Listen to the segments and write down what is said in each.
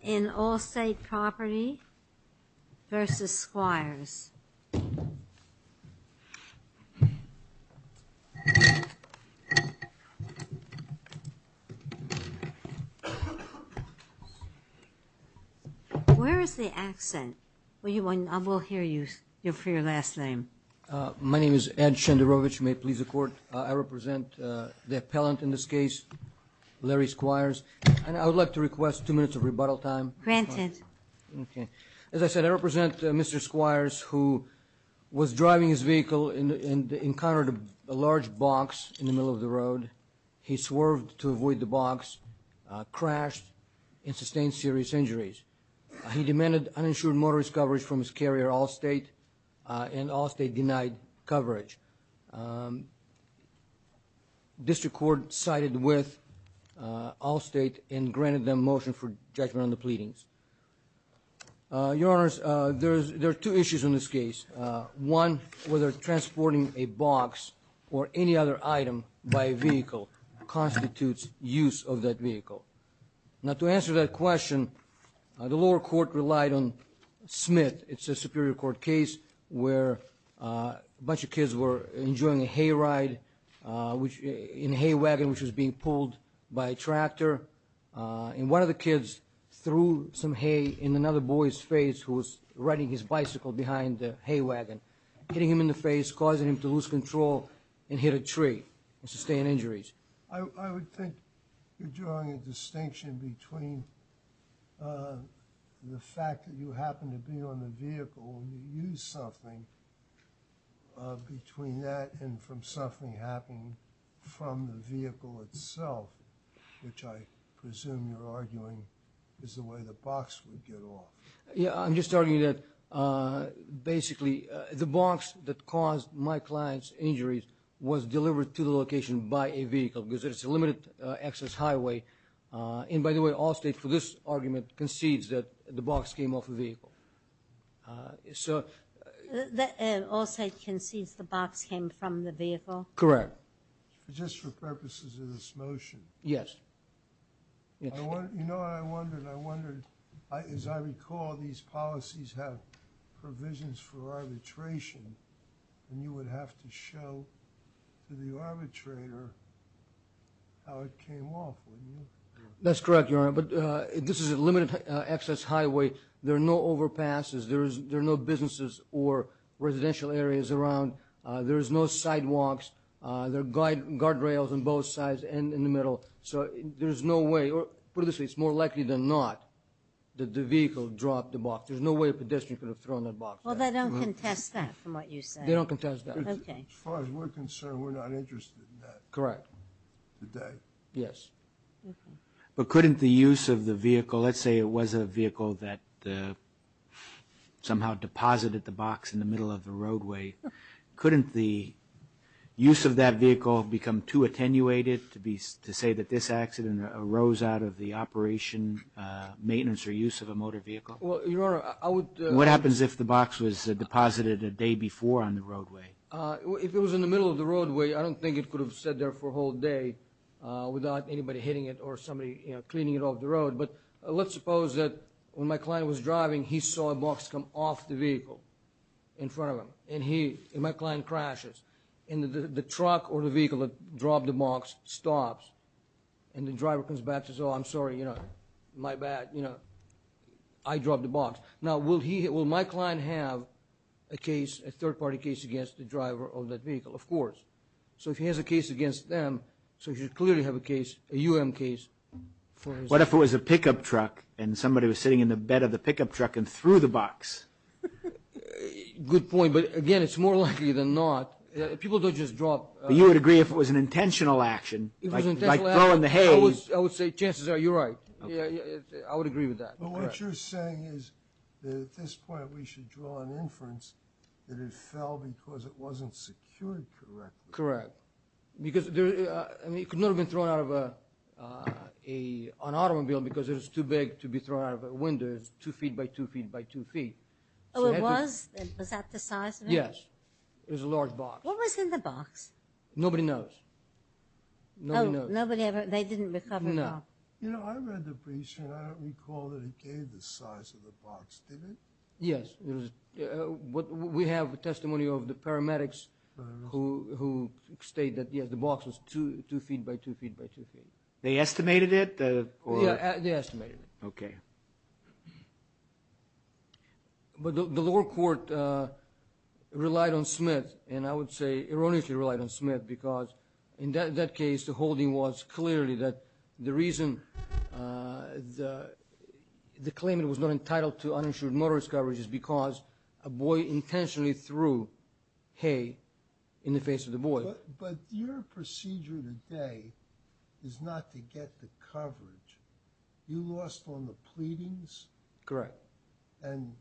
in All State Property&Casualty Ins CovSquires vs. Squires. Where is the accent? I will hear you for your last name. My name is Ed Shenderovich. May it please the Court? I represent the appellant in this case, Larry Squires. And I would like to request two minutes of rebuttal time. Granted. As I said, I represent Mr. Squires, who was driving his vehicle and encountered a large box in the middle of the road. He swerved to avoid the box, crashed and sustained serious injuries. He demanded uninsured motorist coverage from his carrier, All State, and All State denied coverage. District Court sided with All State and granted them motion for judgment on the pleadings. Your Honors, there are two issues in this case. One, whether transporting a box or any other item by vehicle constitutes use of that vehicle. Now to answer that question, the lower court relied on Smith. It's a Superior Court case where a bunch of kids were enjoying a hayride in a hay wagon, which was being pulled by a tractor. And one of the kids threw some hay in another boy's face who was riding his bicycle behind the hay wagon, hitting him in the face, causing him to lose control and hit a tree and sustain injuries. I would think you're drawing a distinction between the fact that you happened to be on the beach with a vehicle and you used something, between that and from something happening from the vehicle itself, which I presume you're arguing is the way the box would get off. Yeah, I'm just arguing that basically the box that caused my client's injuries was delivered to the location by a vehicle because it's a limited access highway. And by the way, Allstate for this argument concedes that the box came off a vehicle. Allstate concedes the box came from the vehicle? Correct. Just for purposes of this motion. Yes. You know, I wondered, as I recall, these policies have provisions for arbitration and you would have to show to the arbitrator how it came off, wouldn't you? That's correct, Your Honor, but this is a limited access highway. There are no overpasses. There are no businesses or residential areas around. There are no sidewalks. There are guardrails on both sides and in the middle. So there's no way, or put it this way, it's more likely than not that the vehicle dropped the box. There's no way a pedestrian could have thrown that box. Well, they don't contest that, from what you said. They don't contest that. As far as we're concerned, we're not interested in that today. Yes. But couldn't the use of the vehicle, let's say it was a vehicle that somehow deposited the box in the middle of the roadway, couldn't the use of that vehicle become too attenuated to say that this accident arose out of the operation, maintenance or use of a motor vehicle? What happens if the box was deposited a day before on the roadway? If it was in the middle of the roadway, I don't think it could have stayed there for a whole day without anybody hitting it or somebody cleaning it off the road. But let's suppose that when my client was driving, he saw a box come off the vehicle in front of him, and my client crashes, and the truck or the vehicle that dropped the box stops, and the driver comes back and says, oh, I'm sorry, my bad, I dropped the box. Now, will my client have a case, a third-party case against the driver of that vehicle? Of course. So if he has a case against them, he should clearly have a case, a U.M. case. What if it was a pickup truck and somebody was sitting in the bed of the pickup truck and threw the box? Good point, but again, it's more likely than not. People don't just drop... But you would agree if it was an intentional action, like throwing the hay... I would say chances are you're right. I would agree with that. But what you're saying is that at this point we should draw an inference that it fell because it wasn't secured correctly. Correct, because it could not have been thrown out of an automobile because it was too big to be thrown out of a window. It was two feet by two feet by two feet. Oh, it was? Was that the size of it? Yes. It was a large box. What was in the box? They estimated it? Yes, they estimated it. But the lower court relied on Smith, and I would say erroneously relied on Smith because in that case the holding was clearly that the reason the claimant was not entitled to uninsured motorist coverage is because a boy intentionally threw hay in the face of the boy. But your procedure today is not to get the coverage. You lost on the pleadings? Correct. And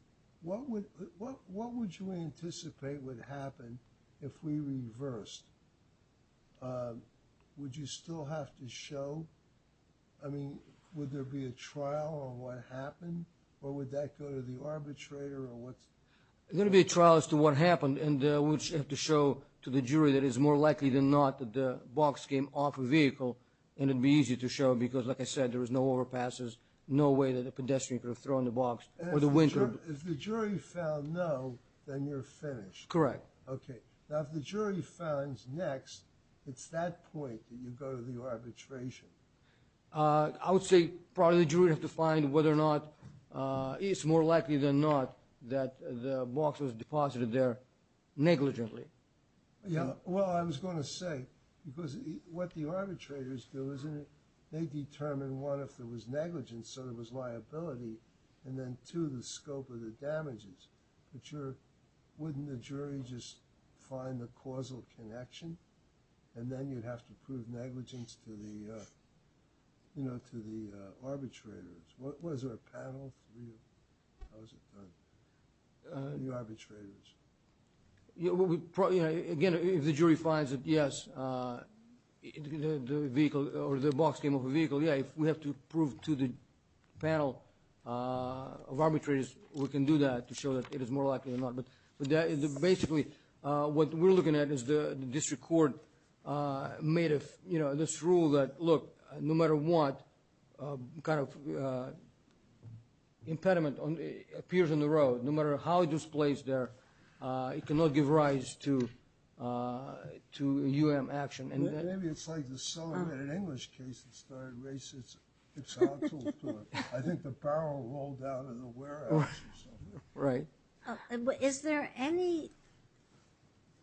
what would you anticipate would happen if we reversed? Would you still have to show? I mean, would there be a trial on what happened, or would that go to the arbitrator? There would be a trial as to what happened, and we would have to show to the jury that it is more likely than not that the box came off a vehicle, and it would be easy to show because, like I said, there was no overpasses, no way that a pedestrian could have thrown the box or the window. If the jury found no, then you're finished? Correct. Okay. Now, if the jury finds next, it's that point that you go to the arbitration. I would say probably the jury would have to find whether or not it's more likely than not that the box was deposited there negligently. Well, I was going to say, because what the arbitrators do is they determine, one, if there was negligence, so there was liability, and then, two, the scope of the damages. But wouldn't the jury just find the causal connection, and then you'd have to prove negligence to the arbitrators? Was there a panel? Again, if the jury finds that, yes, the box came off a vehicle, yeah, if we have to prove to the panel of arbitrators we can do that to show that it is more likely than not. Basically, what we're looking at is the district court made this rule that, look, no matter what impediment appears on the road, no matter how it displays there, it cannot give rise to a UAM action. Maybe it's like the celebrated English case that started racist. I think the barrel rolled out in the warehouse or something. Is there any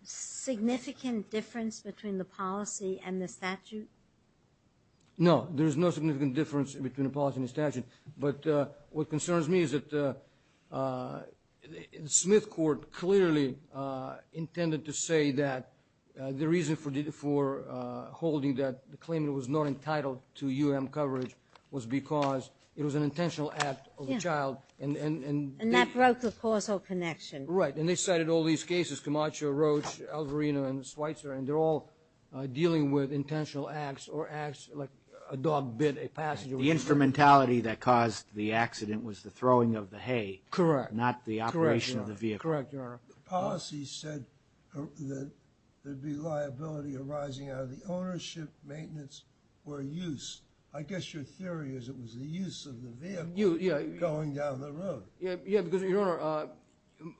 significant difference between the policy and the statute? No, there is no significant difference between the policy and the statute, but what concerns me is that the Smith court clearly intended to say that the reason for holding that the claimant was not entitled to UAM coverage was because it was an intentional act of the child. And that broke the causal connection. Right, and they cited all these cases, Camacho, Roach, Alvarino, and Schweitzer, and they're all dealing with intentional acts or acts like a dog bit a passenger. The instrumentality that caused the accident was the throwing of the hay, not the operation of the vehicle. That's correct, Your Honor. The policy said that there'd be liability arising out of the ownership, maintenance, or use. I guess your theory is it was the use of the vehicle going down the road. Yeah, because, Your Honor,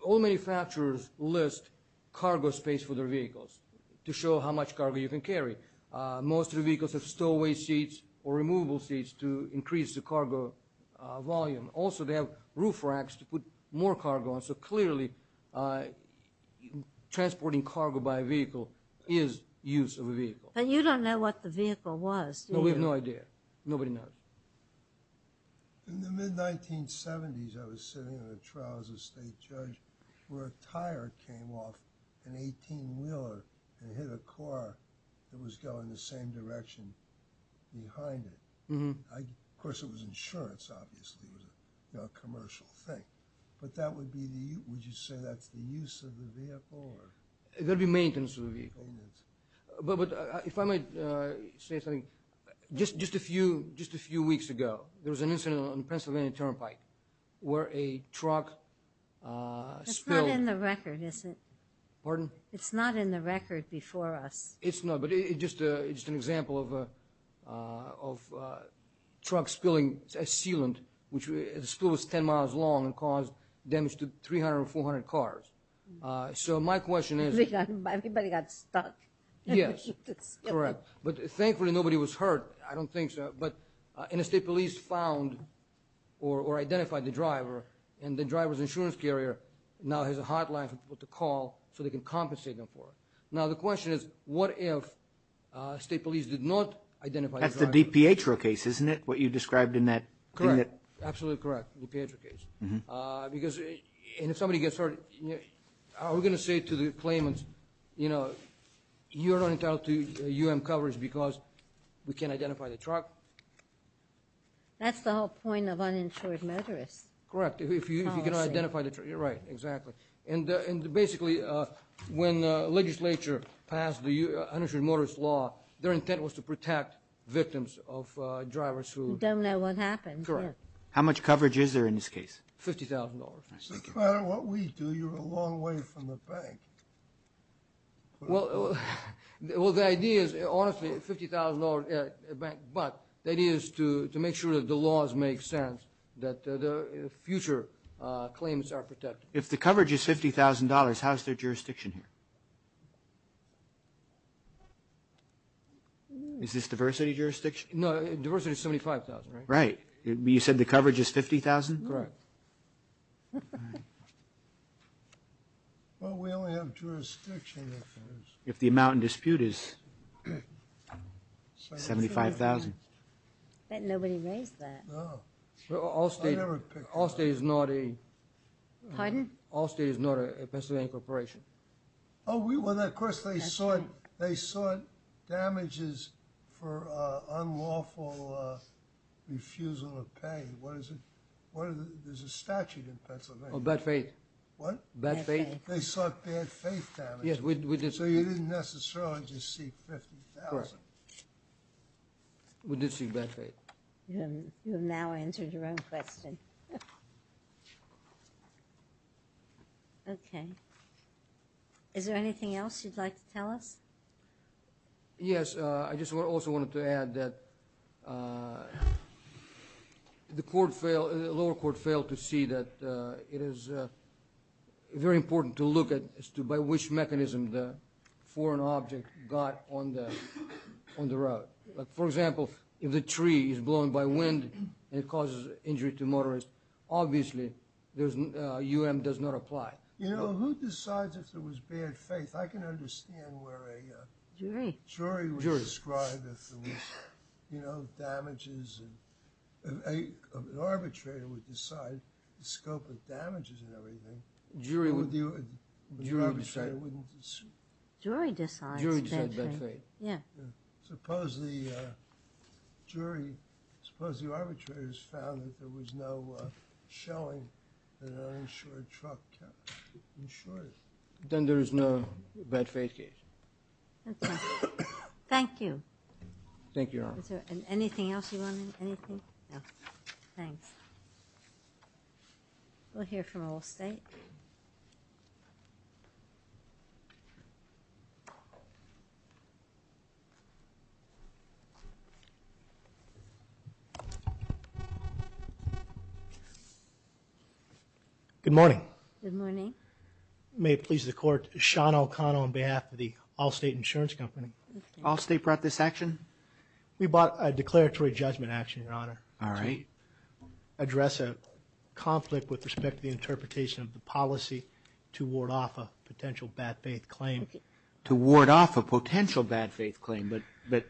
all manufacturers list cargo space for their vehicles to show how much cargo you can carry. Most of the vehicles have stowaway seats or removable seats to increase the cargo volume. Also, they have roof racks to put more cargo on. So clearly, transporting cargo by vehicle is use of a vehicle. But you don't know what the vehicle was, do you? No, we have no idea. Nobody knows. In the mid-1970s, I was sitting in a trial as a state judge where a tire came off an 18-wheeler and hit a car that was going the same direction behind it. Of course, it was insurance, obviously. It was a commercial thing. But would you say that's the use of the vehicle? It would be maintenance of the vehicle. Just a few weeks ago, there was an incident on Pennsylvania Turnpike where a truck spilled... It's not in the record before us. It's just an example of a truck spilling a sealant. The spill was 10 miles long and caused damage to 300 or 400 cars. So my question is... Thankfully, nobody was hurt. I don't think so. And the state police identified the driver, and the driver's insurance carrier now has a hotline for people to call so they can compensate them for it. Now, the question is, what if state police did not identify the driver? That's the DiPietro case, isn't it? What you described in that... Absolutely correct. DiPietro case. You're not entitled to U.M. coverage because we can't identify the truck. That's the whole point of uninsured motorists. Correct, if you cannot identify the truck. Basically, when the legislature passed the uninsured motorists law, their intent was to protect victims of drivers who... How much coverage is there in this case? $50,000. No matter what we do, you're a long way from the bank. Well, the idea is, honestly, $50,000 a bank, but the idea is to make sure that the laws make sense, that future claims are protected. If the coverage is $50,000, how's their jurisdiction here? Is this diversity jurisdiction? No, diversity is $75,000, right? Right. You said the coverage is $50,000? Well, we only have jurisdiction... If the amount in dispute is $75,000. Bet nobody raised that. Allstate is not a... Allstate is not a Pennsylvania corporation. They sought damages for unlawful refusal of pay. There's a statute in Pennsylvania. Bad faith. What? They sought bad faith damages, so you didn't necessarily just seek $50,000. We did seek bad faith. Okay. Is there anything else you'd like to tell us? Yes, I just also wanted to add that the lower court failed to see that it is very important to look at as to by which mechanism the foreign object got on the road. For example, if the tree is blown by wind and it causes injury to motorists, obviously the U.N. does not apply. You know, who decides if there was bad faith? I can understand where a jury would describe if there was damages. An arbitrator would decide the scope of damages and everything. A jury decides. Suppose the jury, suppose the arbitrator has found that there was no shelling, then there is no bad faith case. Thank you. We'll hear from Allstate. Good morning. May it please the Court, Sean O'Connell on behalf of the Allstate Insurance Company. Allstate brought this action? We brought a declaratory judgment action, Your Honor, to address a conflict with respect to the interpretation of the policy to ward off a potential bad faith claim. But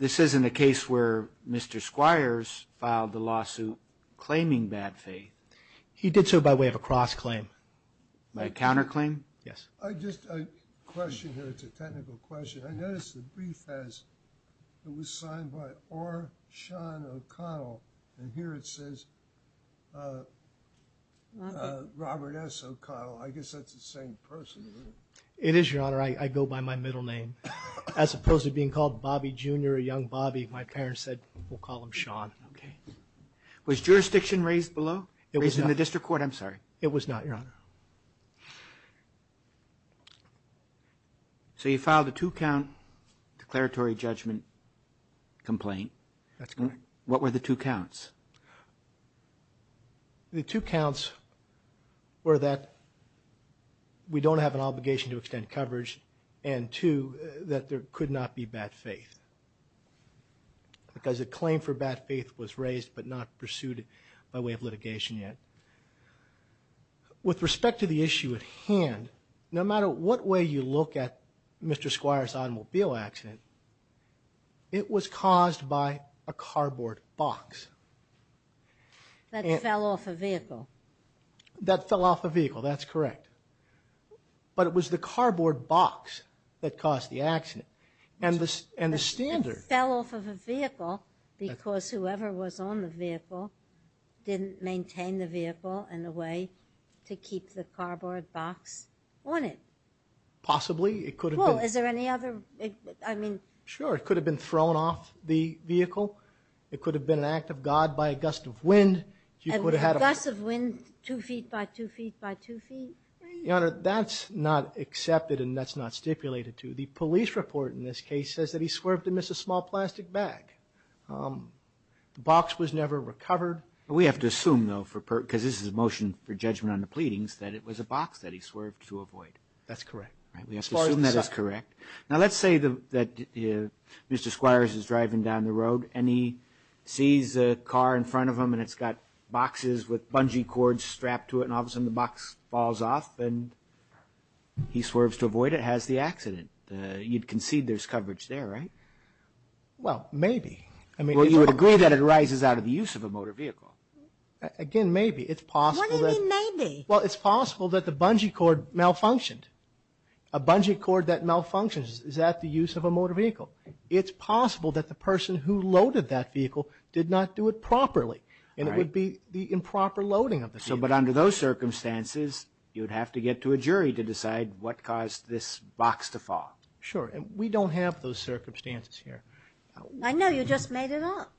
this isn't a case where Mr. Squires filed the lawsuit claiming bad faith. He did so by way of a cross-claim. Yes. Just a question here, it's a technical question. I noticed the brief has, it was signed by R. Sean O'Connell and here it says Robert S. O'Connell. I guess that's the same person, isn't it? It is, Your Honor. I go by my middle name. As opposed to being called Bobby Jr. or young Bobby, my parents said we'll call him Sean. Was jurisdiction raised below? It was not, Your Honor. So you filed a two-count declaratory judgment complaint. What were the two counts? The two counts were that we don't have an obligation to extend coverage and two, that there could not be bad faith. Because a claim for bad faith was raised but not pursued by way of litigation yet. With respect to the issue at hand, no matter what way you look at Mr. Squire's automobile accident, it was caused by a cardboard box. That fell off a vehicle. But it was the cardboard box that caused the accident. It fell off of a vehicle because whoever was on the vehicle didn't maintain the vehicle in a way to keep the cardboard box on it. Possibly. It could have been thrown off the vehicle. It could have been an act of God by a gust of wind. That's not accepted and that's not stipulated to. The police report in this case says that he swerved and missed a small plastic bag. The box was never recovered. We have to assume though, because this is a motion for judgment on the pleadings, that it was a box that he swerved to avoid. That's correct. Now let's say that Mr. Squires is driving down the road and he sees a car in front of him and it's got boxes with bungee cords strapped to it and all of a sudden the box falls off and he swerves to avoid it. That has the accident. You'd concede there's coverage there, right? Well, maybe. Well, you would agree that it arises out of the use of a motor vehicle. Again, maybe. It's possible that the bungee cord malfunctioned. A bungee cord that malfunctions is at the use of a motor vehicle. It's possible that the person who loaded that vehicle did not do it properly and it would be the improper loading of the vehicle. But under those circumstances, you'd have to get to a jury to decide what caused this box to fall. Sure. And we don't have those circumstances here. I know. You just made it up.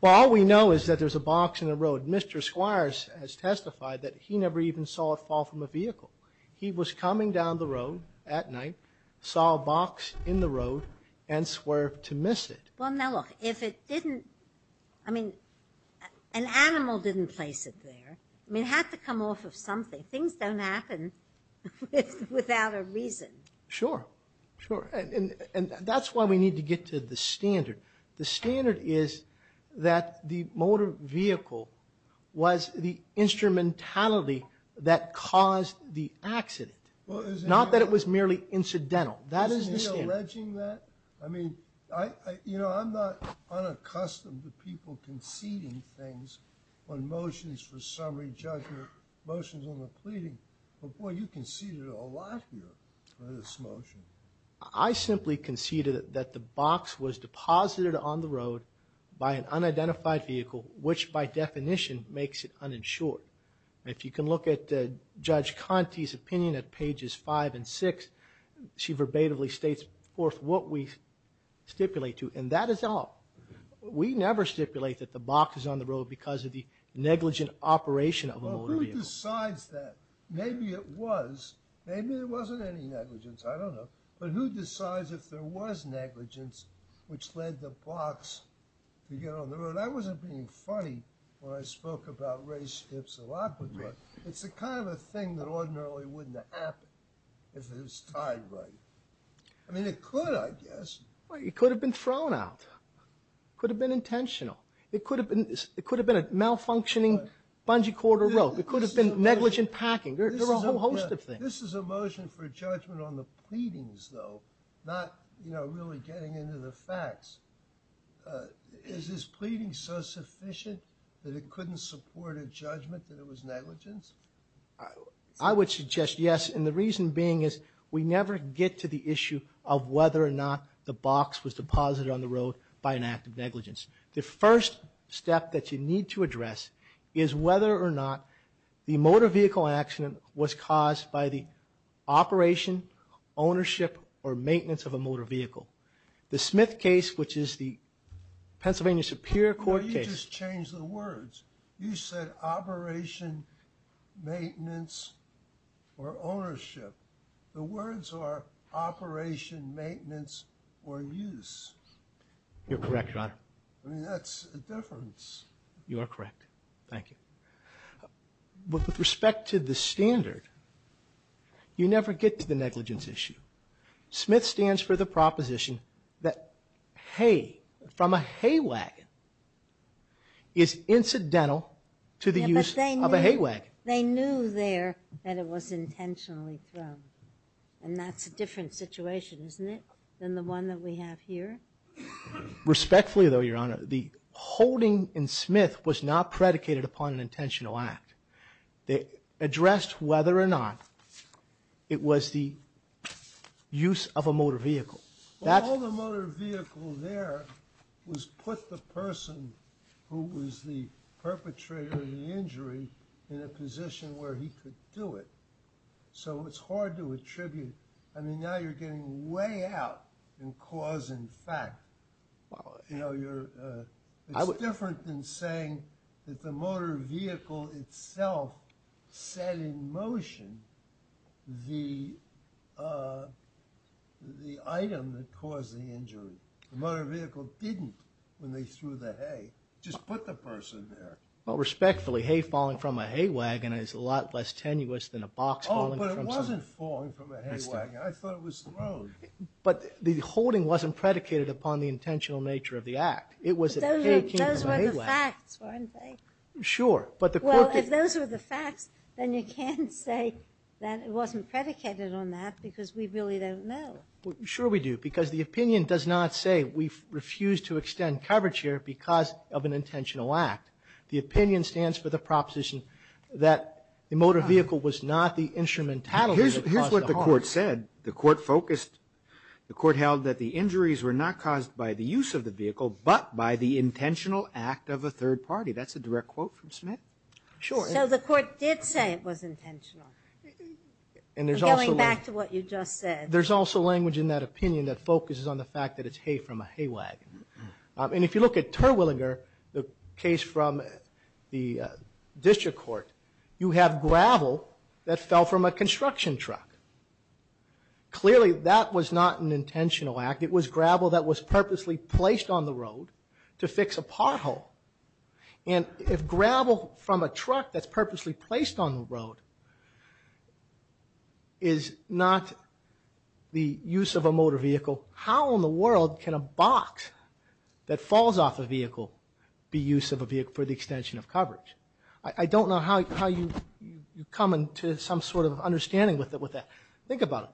Well, all we know is that there's a box in the road. Mr. Squires has testified that he never even saw it fall from a vehicle. He was coming down the road at night, saw a box in the road, and swerved to miss it. Well, now look, if it didn't, I mean, an animal didn't place it there. I mean, it had to come off of something. Things don't happen without a reason. Sure. Sure. And that's why we need to get to the standard. The standard is that the motor vehicle was the instrumentality that caused the accident, not that it was merely incidental. Isn't he alleging that? I mean, you know, I'm not unaccustomed to people conceding things on motions for summary judgment, motions on the pleading. But, boy, you conceded a lot here on this motion. I simply conceded that the box was deposited on the road by an unidentified vehicle, which, by definition, makes it uninsured. If you can look at Judge Conte's opinion at pages 5 and 6, she verbatim states forth what we stipulate to, and that is all. We never stipulate that the box is on the road because of the negligent operation of a motor vehicle. Well, who decides that? Maybe it was. Maybe there wasn't any negligence. I don't know. But who decides if there was negligence, which led the box to get on the road? That wasn't being funny when I spoke about race tips a lot, but it's the kind of a thing that ordinarily wouldn't happen if it was tied right. I mean, it could, I guess. It could have been thrown out. It could have been intentional. It could have been a malfunctioning bungee cord or rope. It could have been negligent packing. There are a whole host of things. This is a motion for judgment on the pleadings, though, not really getting into the facts. Is this pleading so sufficient that it couldn't support a judgment that it was negligence? I would suggest yes, and the reason being is we never get to the issue of whether or not the box was deposited on the road by an act of negligence. The first step that you need to address is whether or not the motor vehicle accident was caused by the operation, ownership, or maintenance of a motor vehicle. The Smith case, which is the Pennsylvania Superior Court case... You just changed the words. You said operation, maintenance, or ownership. The words are operation, maintenance, or use. You're correct, Your Honor. I mean, that's a difference. You are correct. Thank you. With respect to the standard, you never get to the negligence issue. Smith stands for the proposition that hay from a hay wagon is incidental to the use of a hay wagon. They knew there that it was intentionally thrown, and that's a different situation, isn't it, than the one that we have here? Respectfully, though, Your Honor, the holding in Smith was not predicated upon an intentional act. They addressed whether or not it was the use of a motor vehicle. All the motor vehicle there was put the person who was the perpetrator of the injury in a position where he could do it. So it's hard to attribute... I mean, now you're getting way out in cause and fact. It's different than saying that the motor vehicle itself set in motion the item that caused the injury. The motor vehicle didn't, when they threw the hay. Just put the person there. Oh, but it wasn't falling from a hay wagon. I thought it was thrown. Those were the facts, weren't they? Well, if those were the facts, then you can't say that it wasn't predicated on that, because we really don't know. The opinion stands for the proposition that the motor vehicle was not the instrument that caused the harm. The court held that the injuries were not caused by the use of the vehicle, but by the intentional act of a third party. So the court did say it was intentional, going back to what you just said. There's also language in that opinion that focuses on the fact that it's hay from a hay wagon. And if you look at Terwilliger, the case from the district court, you have gravel that fell from a construction truck. Clearly that was not an intentional act. It was gravel that was purposely placed on the road to fix a pothole. And if gravel from a truck that's purposely placed on the road is not the use of a motor vehicle, how in the world can a box that falls off a vehicle be use of a vehicle for the extension of coverage? I don't know how you come to some sort of understanding with that. Think about it.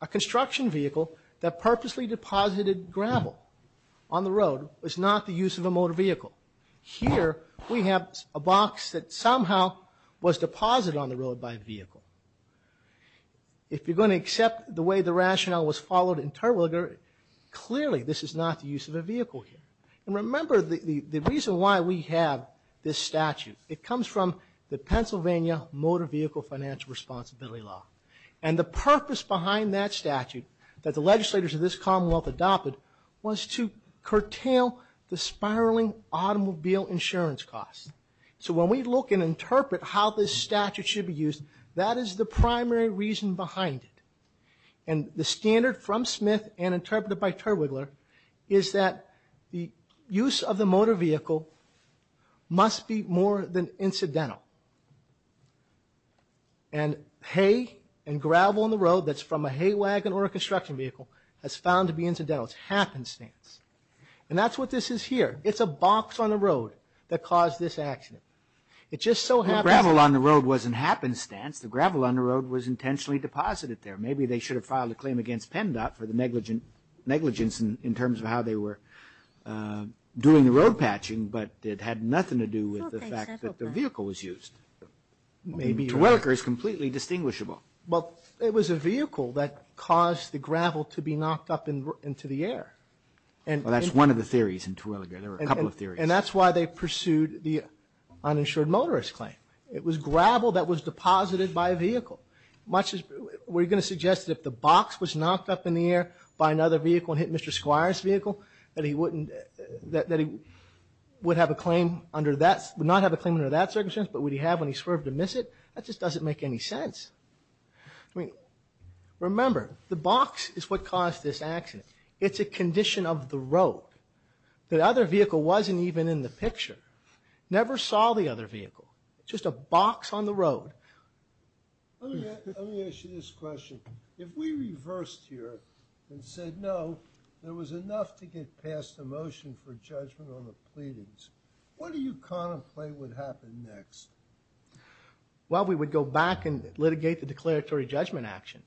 A construction vehicle that purposely deposited gravel on the road was not the use of a motor vehicle. Here we have a box that somehow was deposited on the road by a vehicle. If you're going to accept the way the rationale was followed in Terwilliger, clearly this is not the use of a vehicle here. And remember the reason why we have this statute. It comes from the Pennsylvania Motor Vehicle Financial Responsibility Law. And the purpose behind that statute that the legislators of this commonwealth adopted was to curtail the spiraling automobile insurance costs. So when we look and interpret how this statute should be used, that is the primary reason behind it. And the standard from Smith and interpreted by Terwilliger is that the use of the motor vehicle must be more than incidental. And hay and gravel on the road that's from a hay wagon or a construction vehicle has found to be incidental. It's happenstance. And that's what this is here. It's a box on the road that caused this accident. The gravel on the road wasn't happenstance. The gravel on the road was intentionally deposited there. Maybe they should have filed a claim against PennDOT for the negligence in terms of how they were doing the road patching, but it had nothing to do with the fact that the vehicle was used. Terwilliger is completely distinguishable. Well, it was a vehicle that caused the gravel to be knocked up into the air. That's one of the theories in Terwilliger. There were a couple of theories. And that's why they pursued the uninsured motorist claim. It was gravel that was deposited by a vehicle. We're going to suggest that if the box was knocked up in the air by another vehicle and hit Mr. Squire's vehicle, that he would not have a claim under that circumstance, but would he have when he swerved to miss it? That just doesn't make any sense. Remember, the box is what caused this accident. It's a condition of the road. The other vehicle wasn't even in the picture. Never saw the other vehicle. Just a box on the road. Let me ask you this question. If we reversed here and said no, there was enough to get past the motion for judgment on the pleadings, what do you contemplate would happen next? Well, we would go back and litigate the declaratory judgment action.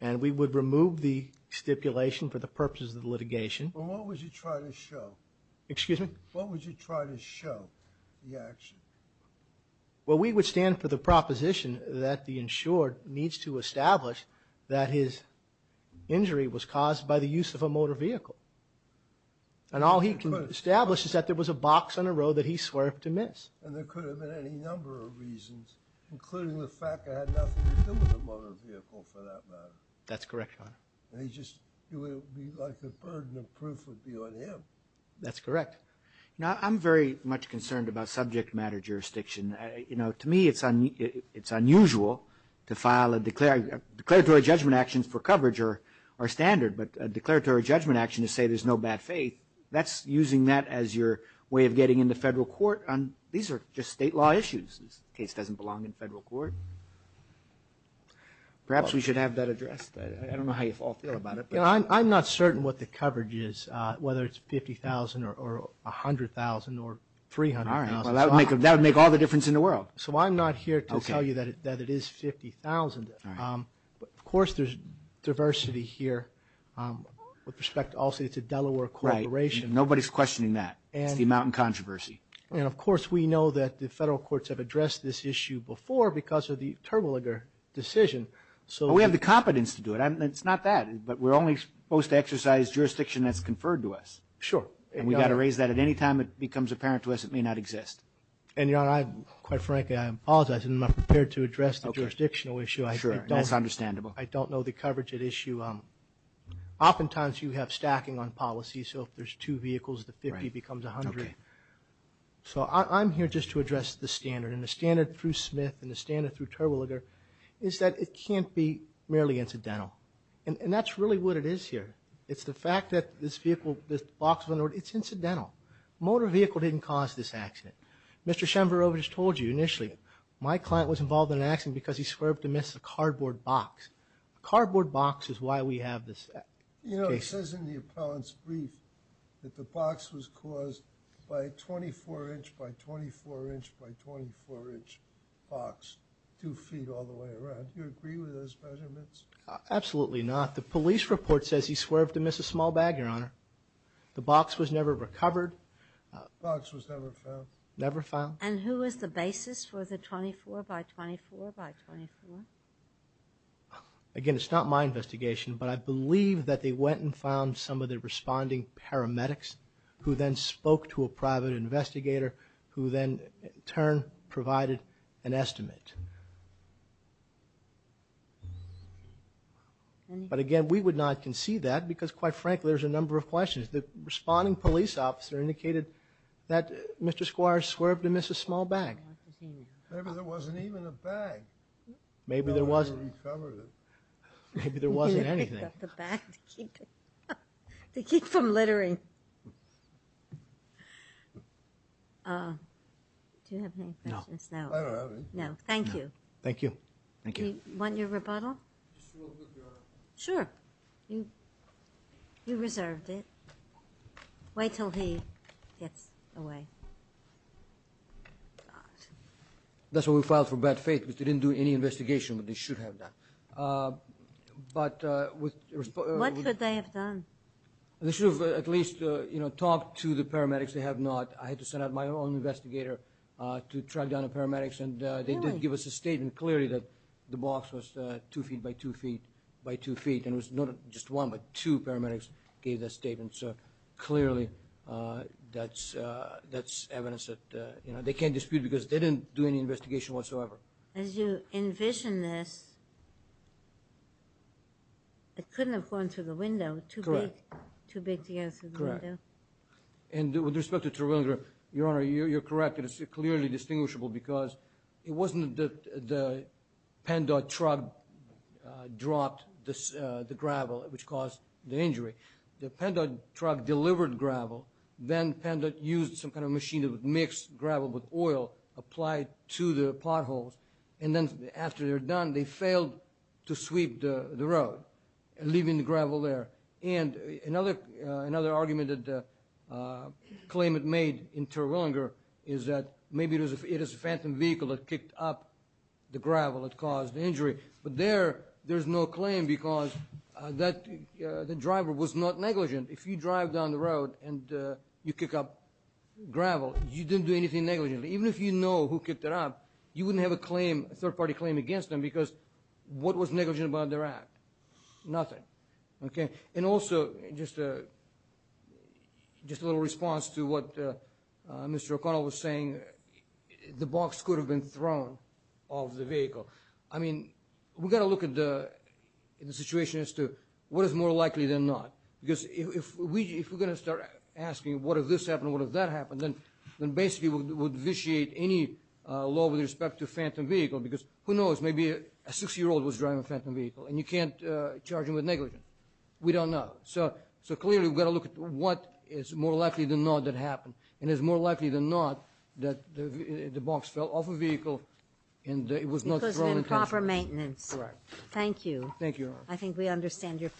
And we would remove the stipulation for the purposes of the litigation. And what would you try to show the action? Well, we would stand for the proposition that the insured needs to establish that his injury was caused by the use of a motor vehicle. And all he can establish is that there was a box on the road that he swerved to miss. And there could have been any number of reasons, including the fact that I had nothing to do with the motor vehicle for that matter. That's correct, Your Honor. And he just, it would be like the burden of proof would be on him. That's correct. Now, I'm very much concerned about subject matter jurisdiction. You know, to me, it's unusual to file a declaratory judgment action for coverage or standard. But a declaratory judgment action to say there's no bad faith, that's using that as your way of getting into federal court on, these are just state law issues. This case doesn't belong in federal court. Perhaps we should have that addressed. I don't know how you all feel about it. You know, I'm not certain what the coverage is, whether it's 50,000 or 100,000 or 300,000. All right. Well, that would make all the difference in the world. So I'm not here to tell you that it is 50,000. Of course, there's diversity here. With respect, I'll say it's a Delaware corporation. Nobody's questioning that. It's the amount in controversy. And of course, we know that the federal courts have addressed this issue before because of the Turboliger decision. So we have the competence to do it. It's not that, but we're only supposed to exercise jurisdiction that's conferred to us. Sure. And we've got to raise that at any time it becomes apparent to us it may not exist. And you know, I quite frankly, I apologize. I'm not prepared to address the jurisdictional issue. That's understandable. I don't know the coverage at issue. Oftentimes you have stacking on policy. So if there's two vehicles, the 50 becomes 100. So I'm here just to address the standard and the standard through Smith and the standard through Turboliger is that it can't be merely incidental. And that's really what it is here. It's the fact that this vehicle, this box, it's incidental. Motor vehicle didn't cause this accident. Mr. Shemverova just told you initially my client was involved in an accident because he swerved to miss a cardboard box. Cardboard box is why we have this. You know, it says in the appellant's brief that the box was caused by 24 inch by 24 inch by 24 inch box, two feet all the way around. You agree with those measurements? Absolutely not. The police report says he swerved to miss a small bag, Your Honor. The box was never recovered. And who was the basis for the 24 by 24 by 24? Again, it's not my investigation, but I believe that they went and found some of the responding paramedics who then spoke to a private investigator who then in turn provided an estimate. But again, we would not concede that because quite frankly, there's a number of questions. The responding police officer indicated that Mr. Squires swerved to miss a small bag. Maybe there wasn't even a bag. Maybe there wasn't anything. I don't know. Thank you. Sure. You reserved it. Wait till he gets away. That's why we filed for bad faith, because they didn't do any investigation that they should have done. But what could they have done? They should have at least talked to the paramedics. They have not. I had to send out my own investigator to track down the paramedics, and they did give us a statement clearly that the box was two feet by two feet by two feet. And it was not just one, but two paramedics gave that statement. So clearly, that's evidence that they can't dispute because they didn't do any investigation whatsoever. As you envision this, it couldn't have gone through the window. Correct. And with respect to Terwilliger, Your Honor, you're correct. It is clearly distinguishable because it wasn't that the Pandod truck dropped the gravel, which caused the injury. The Pandod truck delivered gravel. Then Pandod used some kind of machine that would mix gravel with oil, apply it to the potholes, and then after they're done, they failed to sweep the road, leaving the gravel there. And another argument that the claimant made in Terwilliger is that maybe it is a phantom vehicle that kicked up the gravel that caused the injury. But there, there's no claim because the driver was not negligent. If you drive down the road and you kick up gravel, you didn't do anything negligent. Even if you know who kicked it up, you wouldn't have a third-party claim against them because what was negligent about their act? Nothing. And also, just a little response to what Mr. O'Connell was saying, the box could have been thrown off the vehicle. We've got to look at the situation as to what is more likely than not because if we're going to start asking, what if this happened, what if that happened, then basically we'd vitiate any law with respect to phantom vehicle because who knows, maybe a six-year-old was driving a phantom vehicle and you can't charge them with negligence. We don't know. So clearly we've got to look at what is more likely than not that happened and is more likely than not that the box fell off a vehicle and it was not thrown in. Thank you. I think we understand your position.